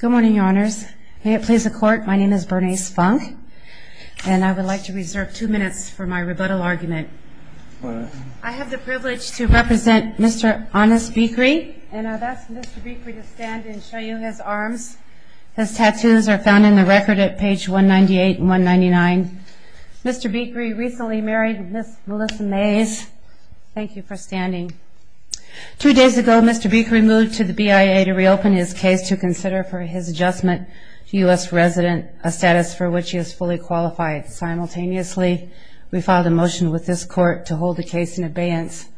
Good morning, Your Honors. May it please the Court, my name is Bernice Funk, and I would like to reserve two minutes for my rebuttal argument. I have the privilege to represent Mr. Anass Bikri, and I'd ask Mr. Bikri to stand and show you his arms. His tattoos are found in the record at page 198 and 199. Mr. Bikri recently married Ms. Melissa Mays. Thank you for standing. Two days ago, Mr. Bikri moved to the BIA to reopen his case to consider for his adjustment to U.S. resident, a status for which he is fully qualified. Simultaneously, we filed a motion with this Court to hold the case in abeyance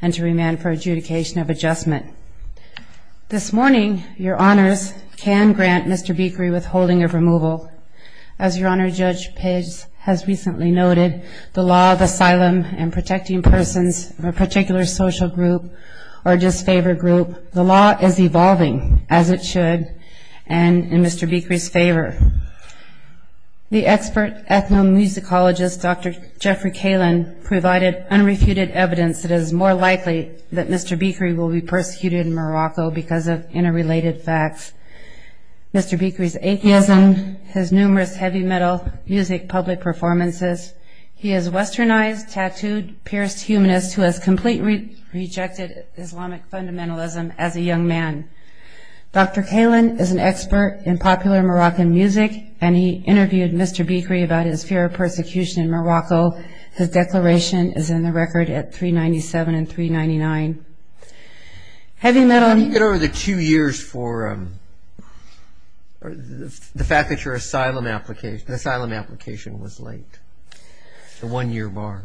and to remand for adjudication of adjustment. This morning, Your Honors can grant Mr. Bikri withholding of removal. As Your Honor, Judge Page has recently noted, the law of asylum and protecting persons of a particular social group or disfavored group, the law is evolving. As it should, and in Mr. Bikri's favor. The expert ethnomusicologist, Dr. Jeffrey Kalin, provided unrefuted evidence that it is more likely that Mr. Bikri will be persecuted in Morocco because of interrelated facts. Mr. Bikri's atheism, his numerous heavy metal music public performances, he is a westernized, tattooed, pierced humanist who has completely rejected Islamic fundamentalism as a young man. Dr. Kalin is an expert in popular Moroccan music and he interviewed Mr. Bikri about his fear of persecution in Morocco. His declaration is in the record at 397 and 399. How do you get over the two years for the fact that your asylum application was late? The one-year bar.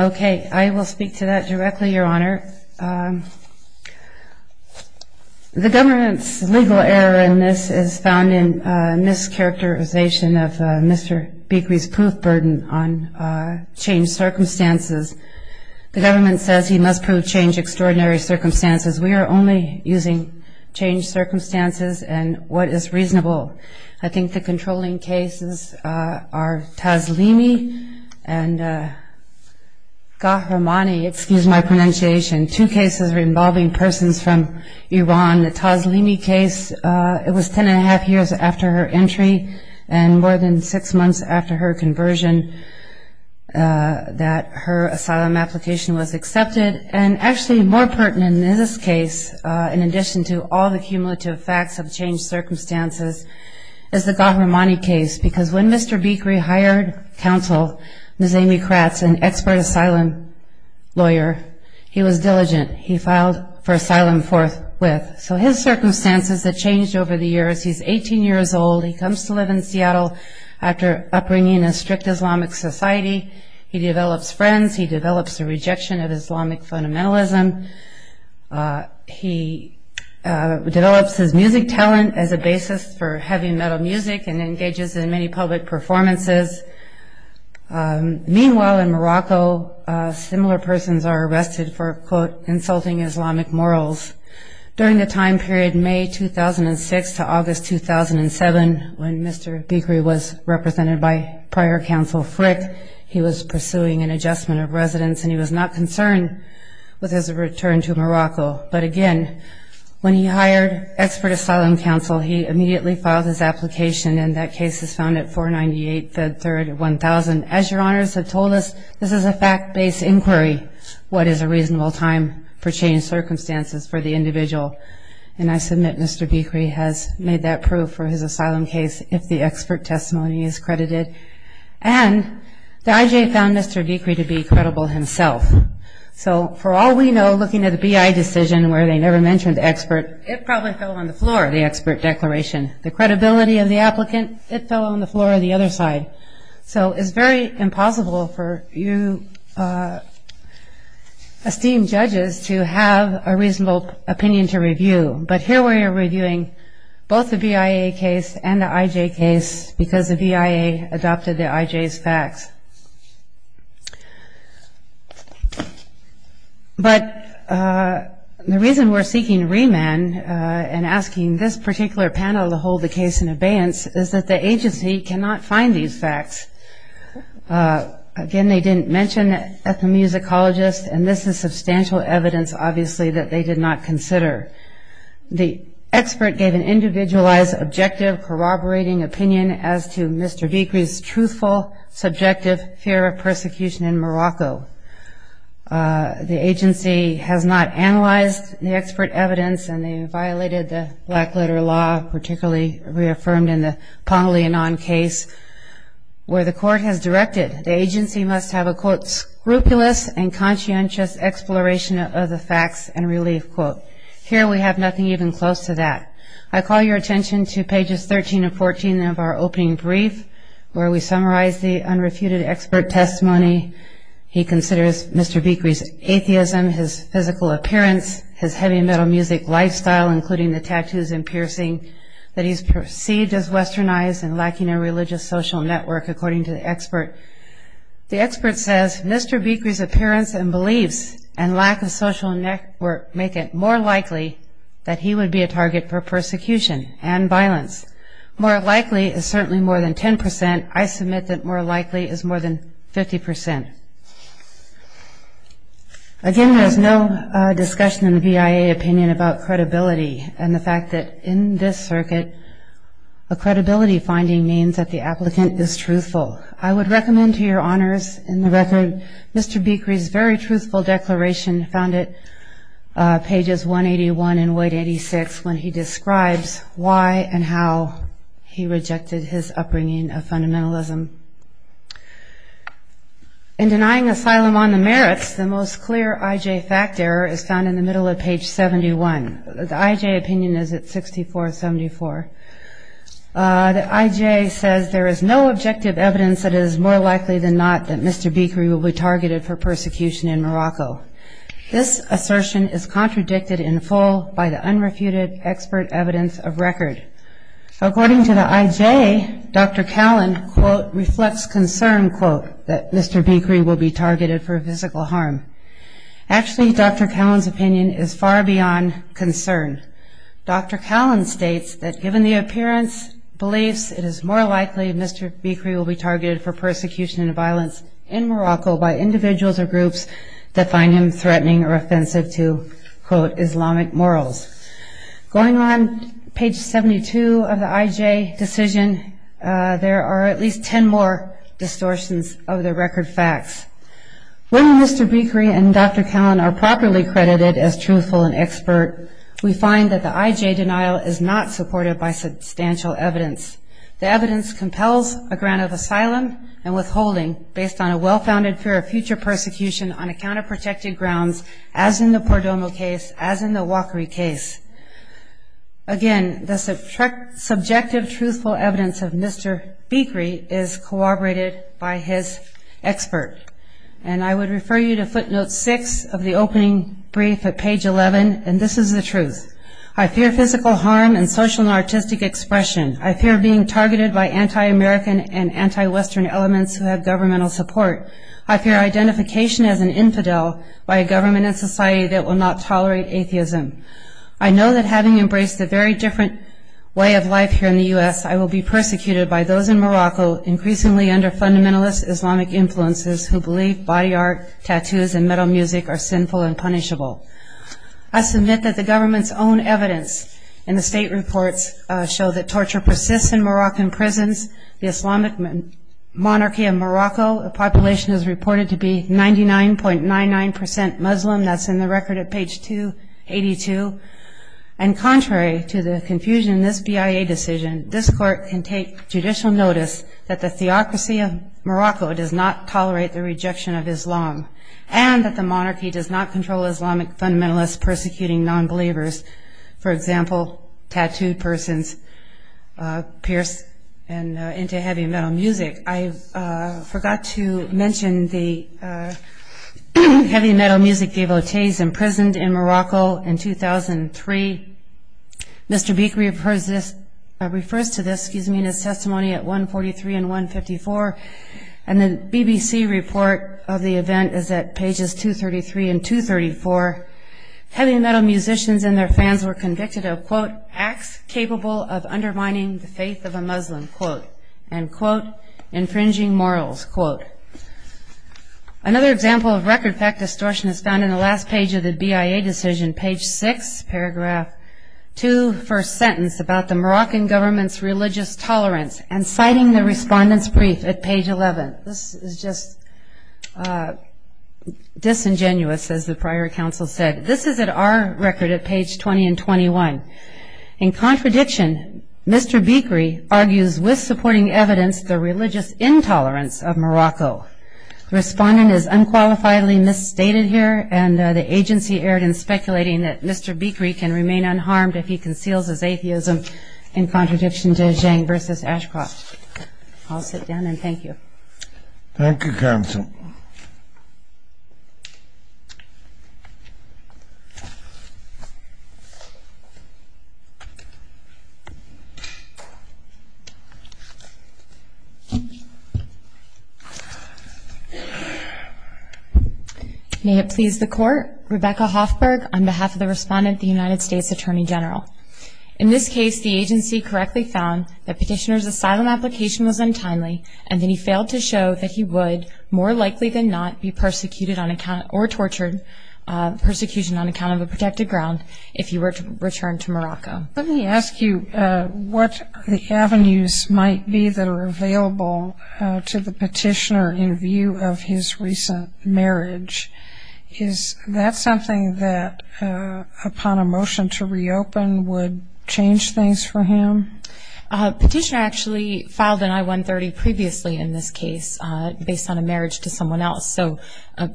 Okay, I will speak to that directly, Your Honor. The government's legal error in this is found in mischaracterization of Mr. Bikri's proof burden on changed circumstances. The government says he must prove changed extraordinary circumstances. We are only using changed circumstances and what is reasonable. I think the controlling cases are Tazlimi and Kahramani, excuse my pronunciation, two cases involving persons from Iran. The Tazlimi case, it was ten and a half years after her entry and more than six months after her conversion that her asylum application was accepted. And actually more pertinent in this case, in addition to all the cumulative facts of circumstances, is the Kahramani case because when Mr. Bikri hired counsel, Ms. Amy Kratz, an expert asylum lawyer, he was diligent. He filed for asylum forthwith. So his circumstances have changed over the years. He's 18 years old. He comes to live in Seattle after upbringing in a strict Islamic society. He develops friends. He develops a rejection of Islamic fundamentalism. He develops his music talent as a basis for heavy metal music and engages in many public performances. Meanwhile, in Morocco, similar persons are arrested for, quote, insulting Islamic morals. During the time period May 2006 to August 2007, when Mr. Bikri was represented by prior counsel Frick, he was pursuing an adjustment of residence and he was not concerned with his return to Morocco. But again, when he hired expert asylum counsel, he immediately filed his application and that case is found at 498 3rd 1000. As your honors have told us, this is a fact-based inquiry. What is a reasonable time for changed circumstances for the individual? And I submit Mr. Bikri has made that proof for his asylum case if the expert testimony is credited. And the IJ found Mr. Bikri to be credible himself. So for all we know, looking at the BIA decision where they never mentioned the expert, it probably fell on the floor, the expert declaration. The credibility of the applicant, it fell on the floor of the other side. So it's very impossible for you esteemed judges to have a reasonable opinion to review. But here we are reviewing both the BIA case and the IJ case because the BIA adopted the IJ's facts. But the reason we're seeking remand and asking this particular panel to hold the case in abeyance is that the agency cannot find these facts. Again, they didn't mention ethnomusicologists and this is substantial evidence obviously that they did not consider. The expert gave an individualized, objective, corroborating opinion as to Mr. Bikri's truthful, subjective fear of persecution in Morocco. The agency has not analyzed the expert evidence and they violated the black letter law, particularly reaffirmed in the Ponglianan case, where the court has directed the agency must have a, quote, scrupulous and conscientious exploration of the facts and relief, quote. Here we have nothing even close to that. I call your attention to pages 13 and 14 of our opening brief, where we summarize the unrefuted expert testimony. He considers Mr. Bikri's atheism, his physical appearance, his heavy metal music lifestyle, including the tattoos and piercing that he's perceived as westernized and lacking a religious social network, according to the expert. The expert says, Mr. Bikri's appearance and beliefs and lack of social network make it more likely that he would be a target for persecution and violence. More likely is certainly more than 10%. I submit that more likely is more than 50%. Again, there's no discussion in the BIA opinion about credibility and the fact that in this circuit, a credibility finding means that the applicant is truthful. I would recommend to your honors in the record, Mr. Bikri's very truthful declaration found at pages 181 and 186, when he describes why and how he rejected his upbringing of fundamentalism. In denying asylum on the merits, the most clear IJ fact error is found in the middle of page 71. The IJ opinion is at 6474. The IJ says there is no objective evidence that is more likely than not that Mr. Bikri will be targeted for persecution in Morocco. This assertion is contradicted in full by the unrefuted expert evidence of record. According to the IJ, Dr. Callen, quote, reflects concern, quote, that Mr. Bikri will be targeted for physical harm. Actually, Dr. Callen's opinion is far beyond concern. Dr. Callen states that given the appearance, beliefs, it is more likely Mr. Bikri will be targeted for persecution and violence in Morocco by individuals or groups that find him threatening or offensive to, quote, Islamic morals. Going on page 72 of the IJ decision, there are at least 10 more distortions of the record facts. When Mr. Bikri and Dr. Callen are properly credited as truthful and expert, we find that the IJ denial is not supported by substantial evidence. The evidence compels a grant of asylum and withholding based on a well-founded fear of future persecution on a counterprotected grounds, as in the Pordomo case, as in the Walkery case. Again, the subjective truthful evidence of Mr. Bikri is corroborated by his expert. And I would refer you to footnote six of the opening brief at page 11, and this is the truth. I fear physical harm and social and artistic expression. I fear being targeted by anti-American and anti-Western elements who have governmental support. I fear identification as an infidel by a government and society that will not tolerate atheism. I know that having embraced a very different way of life here in the U.S., I will be persecuted by those in Morocco, increasingly under fundamentalist Islamic influences who believe body art, tattoos, and metal music are sinful and punishable. I submit that the government's own evidence in the state reports show that torture persists in the record at page 282. And contrary to the confusion in this BIA decision, this court can take judicial notice that the theocracy of Morocco does not tolerate the rejection of Islam, and that the monarchy does not control Islamic fundamentalists persecuting non-believers, for example, tattooed and into heavy metal music. I forgot to mention the heavy metal music devotees imprisoned in Morocco in 2003. Mr. Beek refers to this, excuse me, in his testimony at 143 and 154, and the BBC report of the event is at pages 233 and 234. Heavy metal musicians and their fans were convicted of quote acts capable of undermining the faith of a Muslim quote and quote infringing morals quote. Another example of record fact distortion is found in the last page of the BIA decision, page 6, paragraph 2, first sentence about the Moroccan government's religious tolerance, and citing the respondent's brief at page 11. This is just disingenuous, as the prior counsel said. This is our record at page 20 and 21. In contradiction, Mr. Beekery argues with supporting evidence the religious intolerance of Morocco. Respondent is unqualifiedly misstated here, and the agency erred in speculating that Mr. Beekery can remain unharmed if he conceals his atheism in contradiction to Zhang versus Ashcroft. I'll sit down and thank you. Thank you counsel. May it please the court, Rebecca Hoffberg on behalf of the respondent, the United States Attorney General. In this case, the agency correctly found that petitioner's asylum application was untimely, and that he failed to show that he would more likely than not be if he were to return to Morocco. Let me ask you what the avenues might be that are available to the petitioner in view of his recent marriage. Is that something that upon a motion to reopen would change things for him? Petitioner actually filed an I-130 previously in this case based on a marriage to someone else, so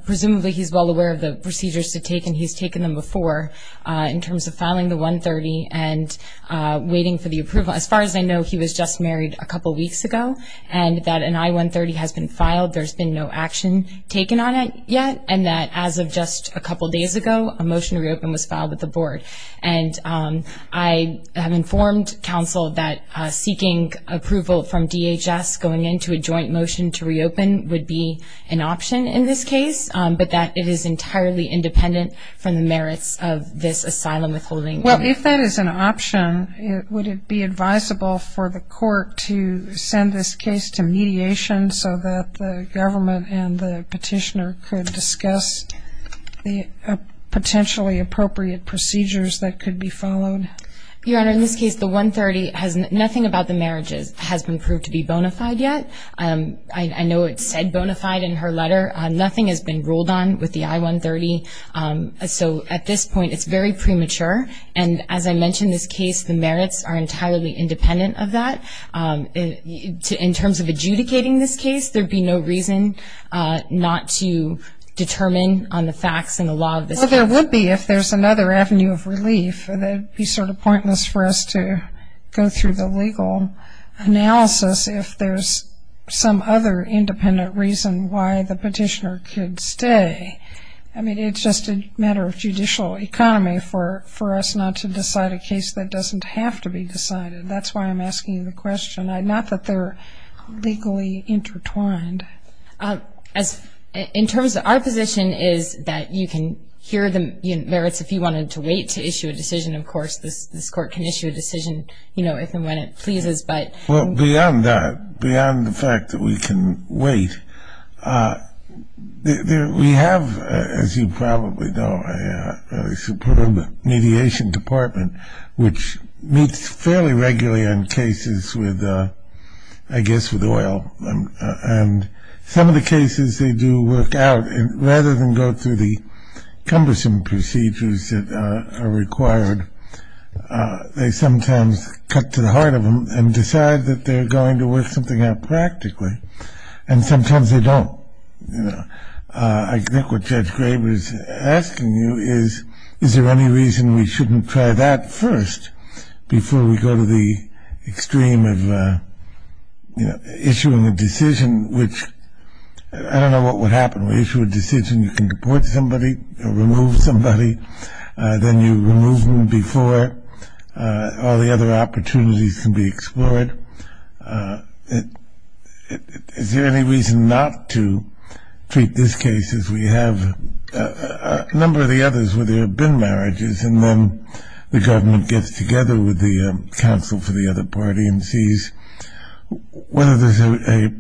presumably he's well aware of the procedures to take, he's taken them before in terms of filing the 130 and waiting for the approval. As far as I know, he was just married a couple weeks ago, and that an I-130 has been filed. There's been no action taken on it yet, and that as of just a couple days ago, a motion to reopen was filed with the board. And I have informed counsel that seeking approval from DHS going into a joint motion to reopen would be an option in this case, but that it is entirely independent from the merits of this asylum withholding. Well, if that is an option, would it be advisable for the court to send this case to mediation so that the government and the petitioner could discuss the potentially appropriate procedures that could be followed? Your Honor, in this case, the 130 has nothing about the marriages has been proved to be bona fide yet. I know it said bona fide in her letter. Nothing has been ruled on with the I-130, so at this point it's very premature, and as I mentioned in this case, the merits are entirely independent of that. In terms of adjudicating this case, there'd be no reason not to determine on the facts and the law of this case. Well, there would be if there's another avenue of relief. It would be sort of pointless for us to go through the legal analysis if there's some other independent reason why the petitioner could stay. I mean, it's just a matter of judicial economy for us not to decide a case that doesn't have to be decided. That's why I'm asking the question, not that they're legally intertwined. In terms of our position is that you can hear the merits if you wanted to wait to issue a decision. Of course, this court can issue a decision, you know, if and when it pleases, but... Well, beyond that, beyond the fact that we can wait, we have, as you probably know, a superb mediation department which meets fairly regularly on cases with, I guess, with oil, and some of the cases they do work out rather than go through the cumbersome procedures that are required. They sometimes cut to the heart of them and decide that they're going to work something out practically, and sometimes they don't, you know. I think what Judge Graber is asking you is, is there any reason we shouldn't try that first before we go to the extreme of, you know, issuing a decision which, I don't know what would happen. We issue a decision, you can deport somebody or remove somebody, then you remove them before all the other opportunities can be explored. Is there any reason not to treat this case as we have a number of the others where there have been marriages, and then the government gets together with the counsel for the other party and sees whether there's a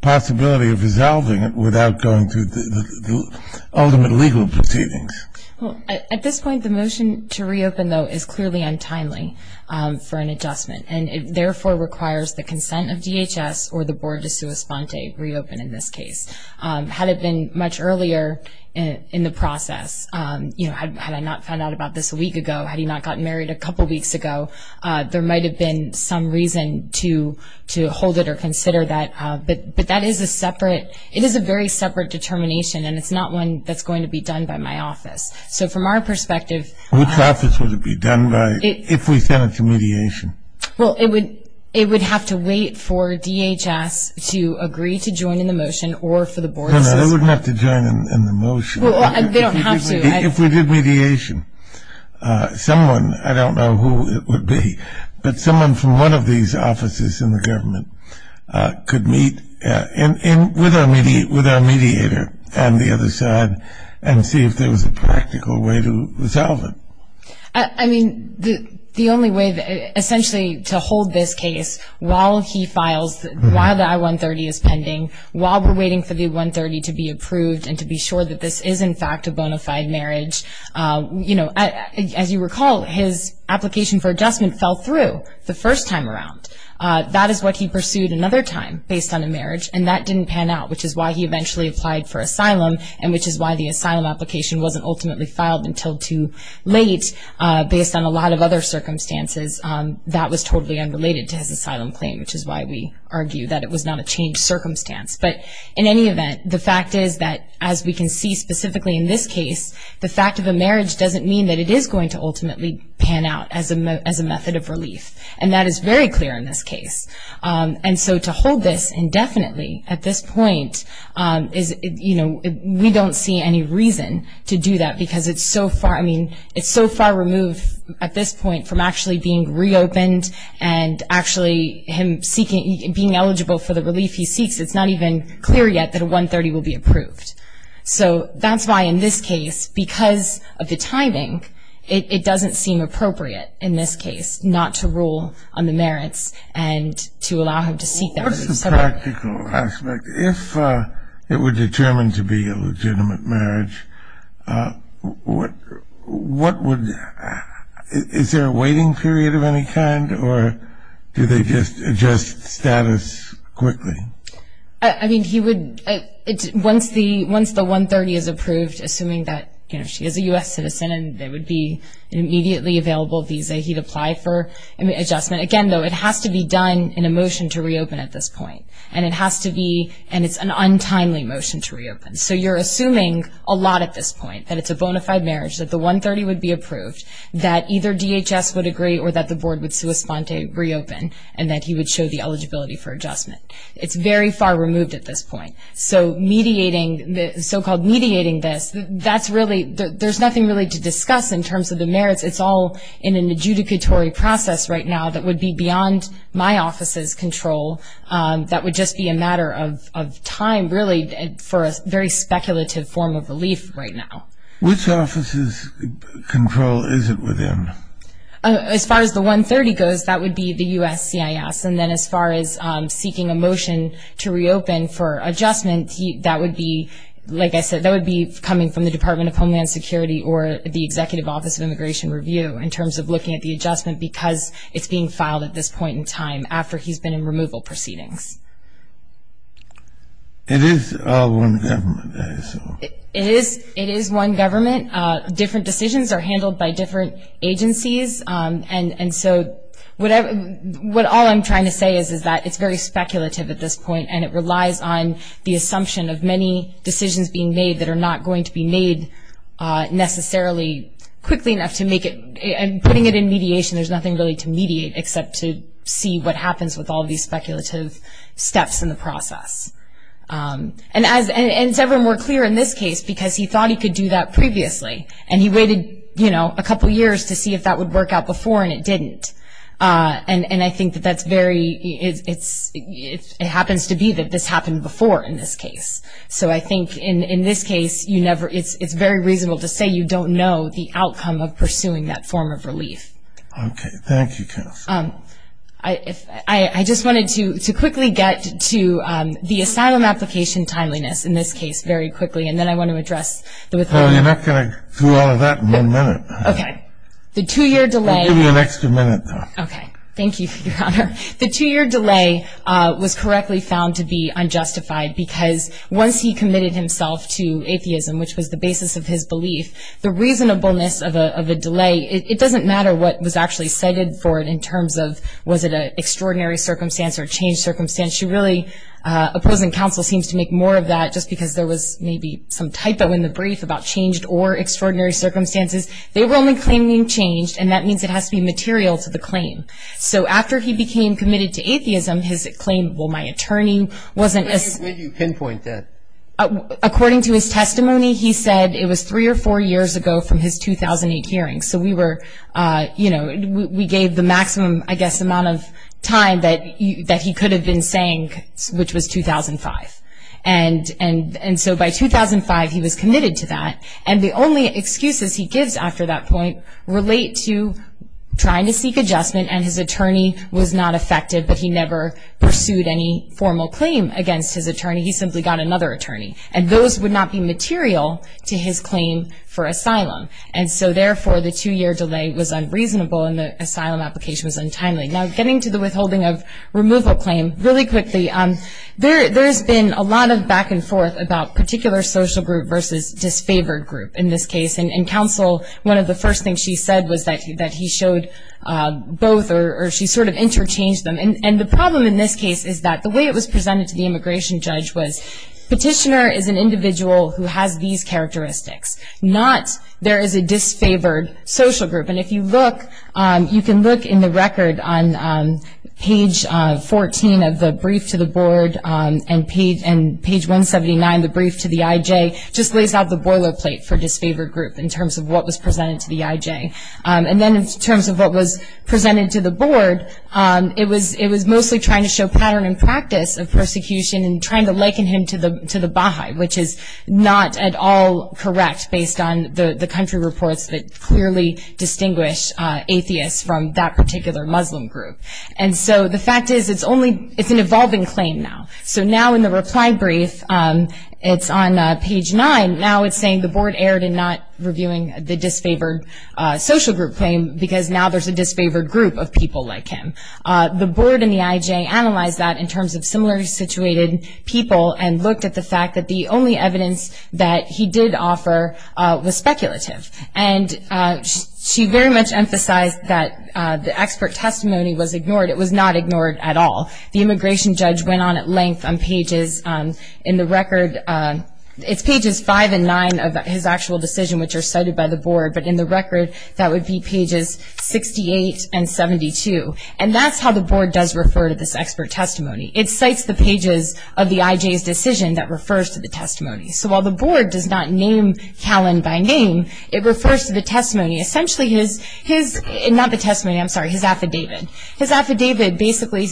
possibility of resolving it without going through the ultimate legal proceedings? Well, at this point, the motion to reopen, though, is clearly untimely for an adjustment, and it therefore requires the consent of DHS or the board to sua sponte, reopen in this case. Had it been much earlier in the process, you know, had I not found out about this a week ago, had he not gotten married a couple weeks ago, there might have been some reason to hold it or consider that but that is a separate, it is a very separate determination, and it's not one that's going to be done by my office. So, from our perspective... Which office would it be done by if we sent it to mediation? Well, it would have to wait for DHS to agree to join in the motion or for the board to say so. No, no, they wouldn't have to join in the motion. Well, they don't have to. If we did mediation, someone, I don't know who it would be, but someone from one of these offices in the government could meet with our mediator on the other side and see if there was a practical way to resolve it. I mean, the only way, essentially, to hold this case while he files, while the I-130 is pending, while we're waiting for the 130 to be approved and to be sure that this is, in fact, a bona fide marriage, you know, as you recall, his application for adjustment fell through the first time around. That is what he pursued another time based on a marriage, and that didn't pan out, which is why he eventually applied for asylum, and which is why the asylum application wasn't ultimately filed until too late based on a lot of other circumstances. That was totally unrelated to his asylum claim, which is why we argue that it was not a changed circumstance. But, in any event, the fact is that, as we can see specifically in this case, the fact of a marriage doesn't mean that it is going to And so to hold this indefinitely at this point is, you know, we don't see any reason to do that because it's so far, I mean, it's so far removed at this point from actually being reopened and actually him seeking, being eligible for the relief he seeks, it's not even clear yet that a 130 will be approved. So that's why in this case, because of the timing, it doesn't seem appropriate, in this case, not to rule on the merits and to allow him to seek them. What's the practical aspect? If it were determined to be a legitimate marriage, what would, is there a waiting period of any kind, or do they just adjust status quickly? I mean, he would, once the 130 is approved, assuming that, you know, she is a U.S. citizen, and there would be an immediately available visa, he'd apply for adjustment. Again, though, it has to be done in a motion to reopen at this point, and it has to be, and it's an untimely motion to reopen. So you're assuming a lot at this point, that it's a bona fide marriage, that the 130 would be approved, that either DHS would agree or that the board would sui sponte reopen, and that he would show the eligibility for adjustment. It's very far removed at this point. So mediating, so-called mediating this, that's really, there's nothing really to discuss in terms of the merits. It's all in an adjudicatory process right now that would be beyond my office's control. That would just be a matter of time, really, for a very speculative form of relief right now. Which office's control is it within? As far as the 130 goes, that would be the USCIS, and then as far as seeking a motion to reopen for adjustment, that would be, like I said, that would be coming from the Department of Homeland Security or the Executive Office of Immigration Review in terms of looking at the adjustment, because it's being filed at this point in time after he's been in removal proceedings. It is one government. It is one very speculative at this point, and it relies on the assumption of many decisions being made that are not going to be made necessarily quickly enough to make it, and putting it in mediation, there's nothing really to mediate except to see what happens with all these speculative steps in the process. And as, and Severin were clear in this case, because he thought he could do that previously, and he waited, you know, a couple years to see if that would work out before, and it didn't. And I think that that's very, it's, it happens to be that this happened before in this case. So I think in this case, you never, it's very reasonable to say you don't know the outcome of pursuing that form of relief. Okay, thank you. I just wanted to quickly get to the asylum application timeliness in this case very quickly, and then I want to address the two-year delay. Well, you're not going to do all of that in one minute. Okay, the two-year delay. I'll give you an extra minute, though. Okay, thank you, Your Honor. The two-year delay was correctly found to be unjustified because once he committed himself to atheism, which was the basis of his belief, the reasonableness of a delay, it doesn't matter what was actually cited for it in terms of was it an extraordinary circumstance or a changed circumstance, you really, opposing counsel seems to make more of that just because there was maybe some typo in the brief about changed or extraordinary circumstances. They were only claiming changed, and that means it has to be material to the claim. So after he became committed to atheism, his claim, well, my attorney wasn't... Where did you pinpoint that? According to his testimony, he said it was three or four years ago from his 2008 hearing. So we were, you know, we gave the maximum, I guess, amount of time that he could have been saying, which was 2005. And so by 2005, he was committed to that, and the only excuses he gives after that point relate to trying to seek adjustment, and his attorney was not effective, but he never pursued any formal claim against his attorney. He simply got another attorney, and those would not be material to his claim for asylum. And so therefore, the two-year delay was unreasonable, and the asylum application was untimely. Now, getting to the withholding of removal claim, really quickly, there's been a lot of back and forth about particular social group versus disfavored group in this case. And counsel, one of the first things she said was that he showed both, or she sort of interchanged them. And the problem in this case is that the way it was presented to the immigration judge was, petitioner is an individual who has these characteristics, not there is a disfavored social group. And if you look, you can look in the record on page 14 of the brief to the board, and page 179, the brief to the IJ, just lays out the boilerplate for disfavored group in terms of what was presented to the IJ. And then in terms of what was presented to the board, it was mostly trying to show pattern and practice of persecution and trying to liken him to the Baha'i, which is not at all correct based on the country reports that clearly distinguish atheists from that particular Muslim group. And so the fact is it's only, it's an evolving claim now. So now in the reply brief, it's on page 9, now it's saying the board erred in not reviewing the disfavored social group claim because now there's a disfavored group of people like him. The board and the IJ analyzed that in terms of similarly situated people and looked at the fact that the only evidence that he did offer was speculative. And she very much emphasized that the expert testimony was ignored. It was not ignored at all. The immigration judge went on at length on pages, in the record, it's pages 5 and 9 of his actual decision, which are cited by the board, but in the record, that would be pages 68 and 72. And that's how the board does that refers to the testimony. So while the board does not name Callan by name, it refers to the testimony, essentially his, his, not the testimony, I'm sorry, his affidavit. His affidavit basically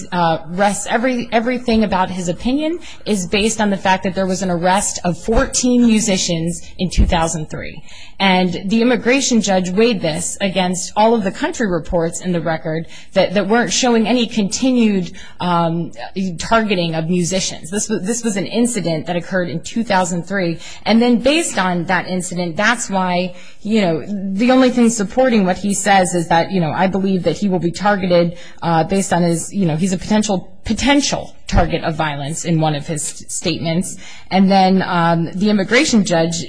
rests, everything about his opinion is based on the fact that there was an arrest of 14 musicians in 2003. And the immigration judge weighed this against all of the country reports in the record that weren't showing any continued targeting of musicians. This was an incident that occurred in 2003. And then based on that incident, that's why, you know, the only thing supporting what he says is that, you know, I believe that he will be targeted based on his, you know, he's a potential, potential target of violence in one of his statements. And then the immigration judge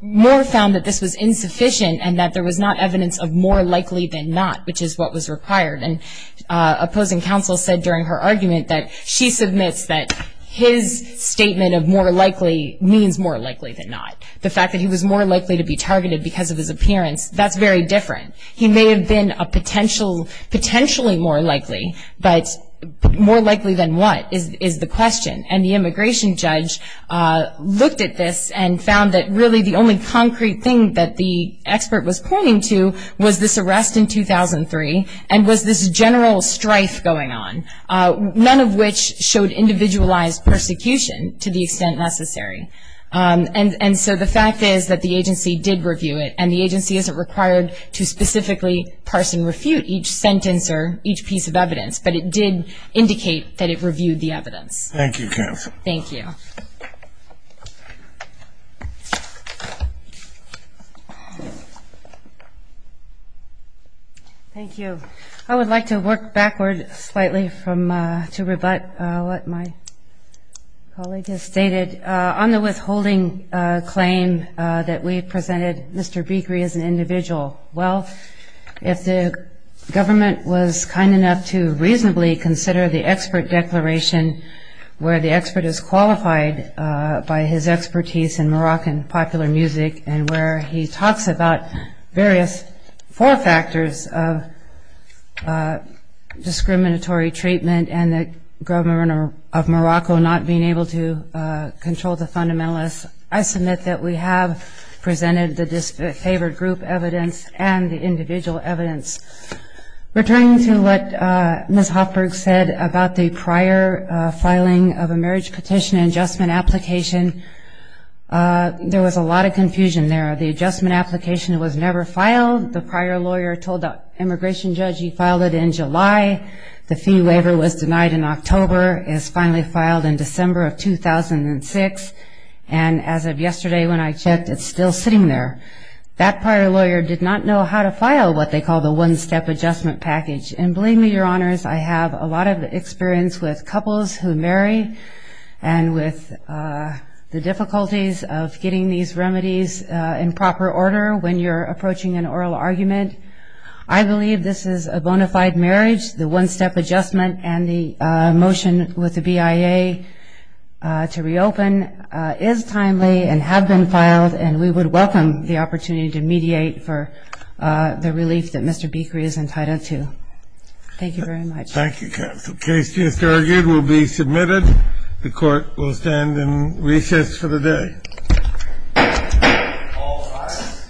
more found that this was insufficient and that there was not evidence of more likely than not, which is what was required. And opposing counsel said during her argument that she submits that his statement of more likely means more likely than not. The fact that he was more likely to be targeted because of his appearance, that's very different. He may have been a potential, potentially more likely, but more likely than what is, is the question. And the immigration judge looked at this and found that really the only concrete thing that the expert was pointing to was this arrest in 2003 and was this general strife going on, none of which showed individualized persecution to the extent necessary. And so the fact is that the agency did review it, and the agency isn't required to specifically parse and refute each sentence or each piece of evidence, but it did indicate that it reviewed the evidence. Thank you, Kev. Thank you. Thank you. I would like to work backward slightly from, to rebut what my colleague has stated on the withholding claim that we presented Mr. Bikri as an individual. Well, if the government was kind enough to reasonably consider the expert declaration where the expert is qualified by his expertise in four factors of discriminatory treatment and the government of Morocco not being able to control the fundamentalists, I submit that we have presented the disfavored group evidence and the individual evidence. Returning to what Ms. Hoffberg said about the prior filing of a marriage petition adjustment application, there was a lot of confusion there. The adjustment application was never filed. The prior lawyer told the immigration judge he filed it in July. The fee waiver was denied in October. It was finally filed in December of 2006. And as of yesterday when I checked, it's still sitting there. That prior lawyer did not know how to file what they call the one-step adjustment package. And believe me, Your Honors, I have a lot of experience with couples who marry and with the difficulties of getting these remedies in proper order when you're approaching an oral argument. I believe this is a bona fide marriage. The one-step adjustment and the motion with the BIA to reopen is timely and have been filed, and we would welcome the opportunity to mediate for the relief that Mr. Bikri is entitled to. Thank you very much. Thank you, counsel. Case just argued will be submitted. The court will stand in recess for the day. All rise.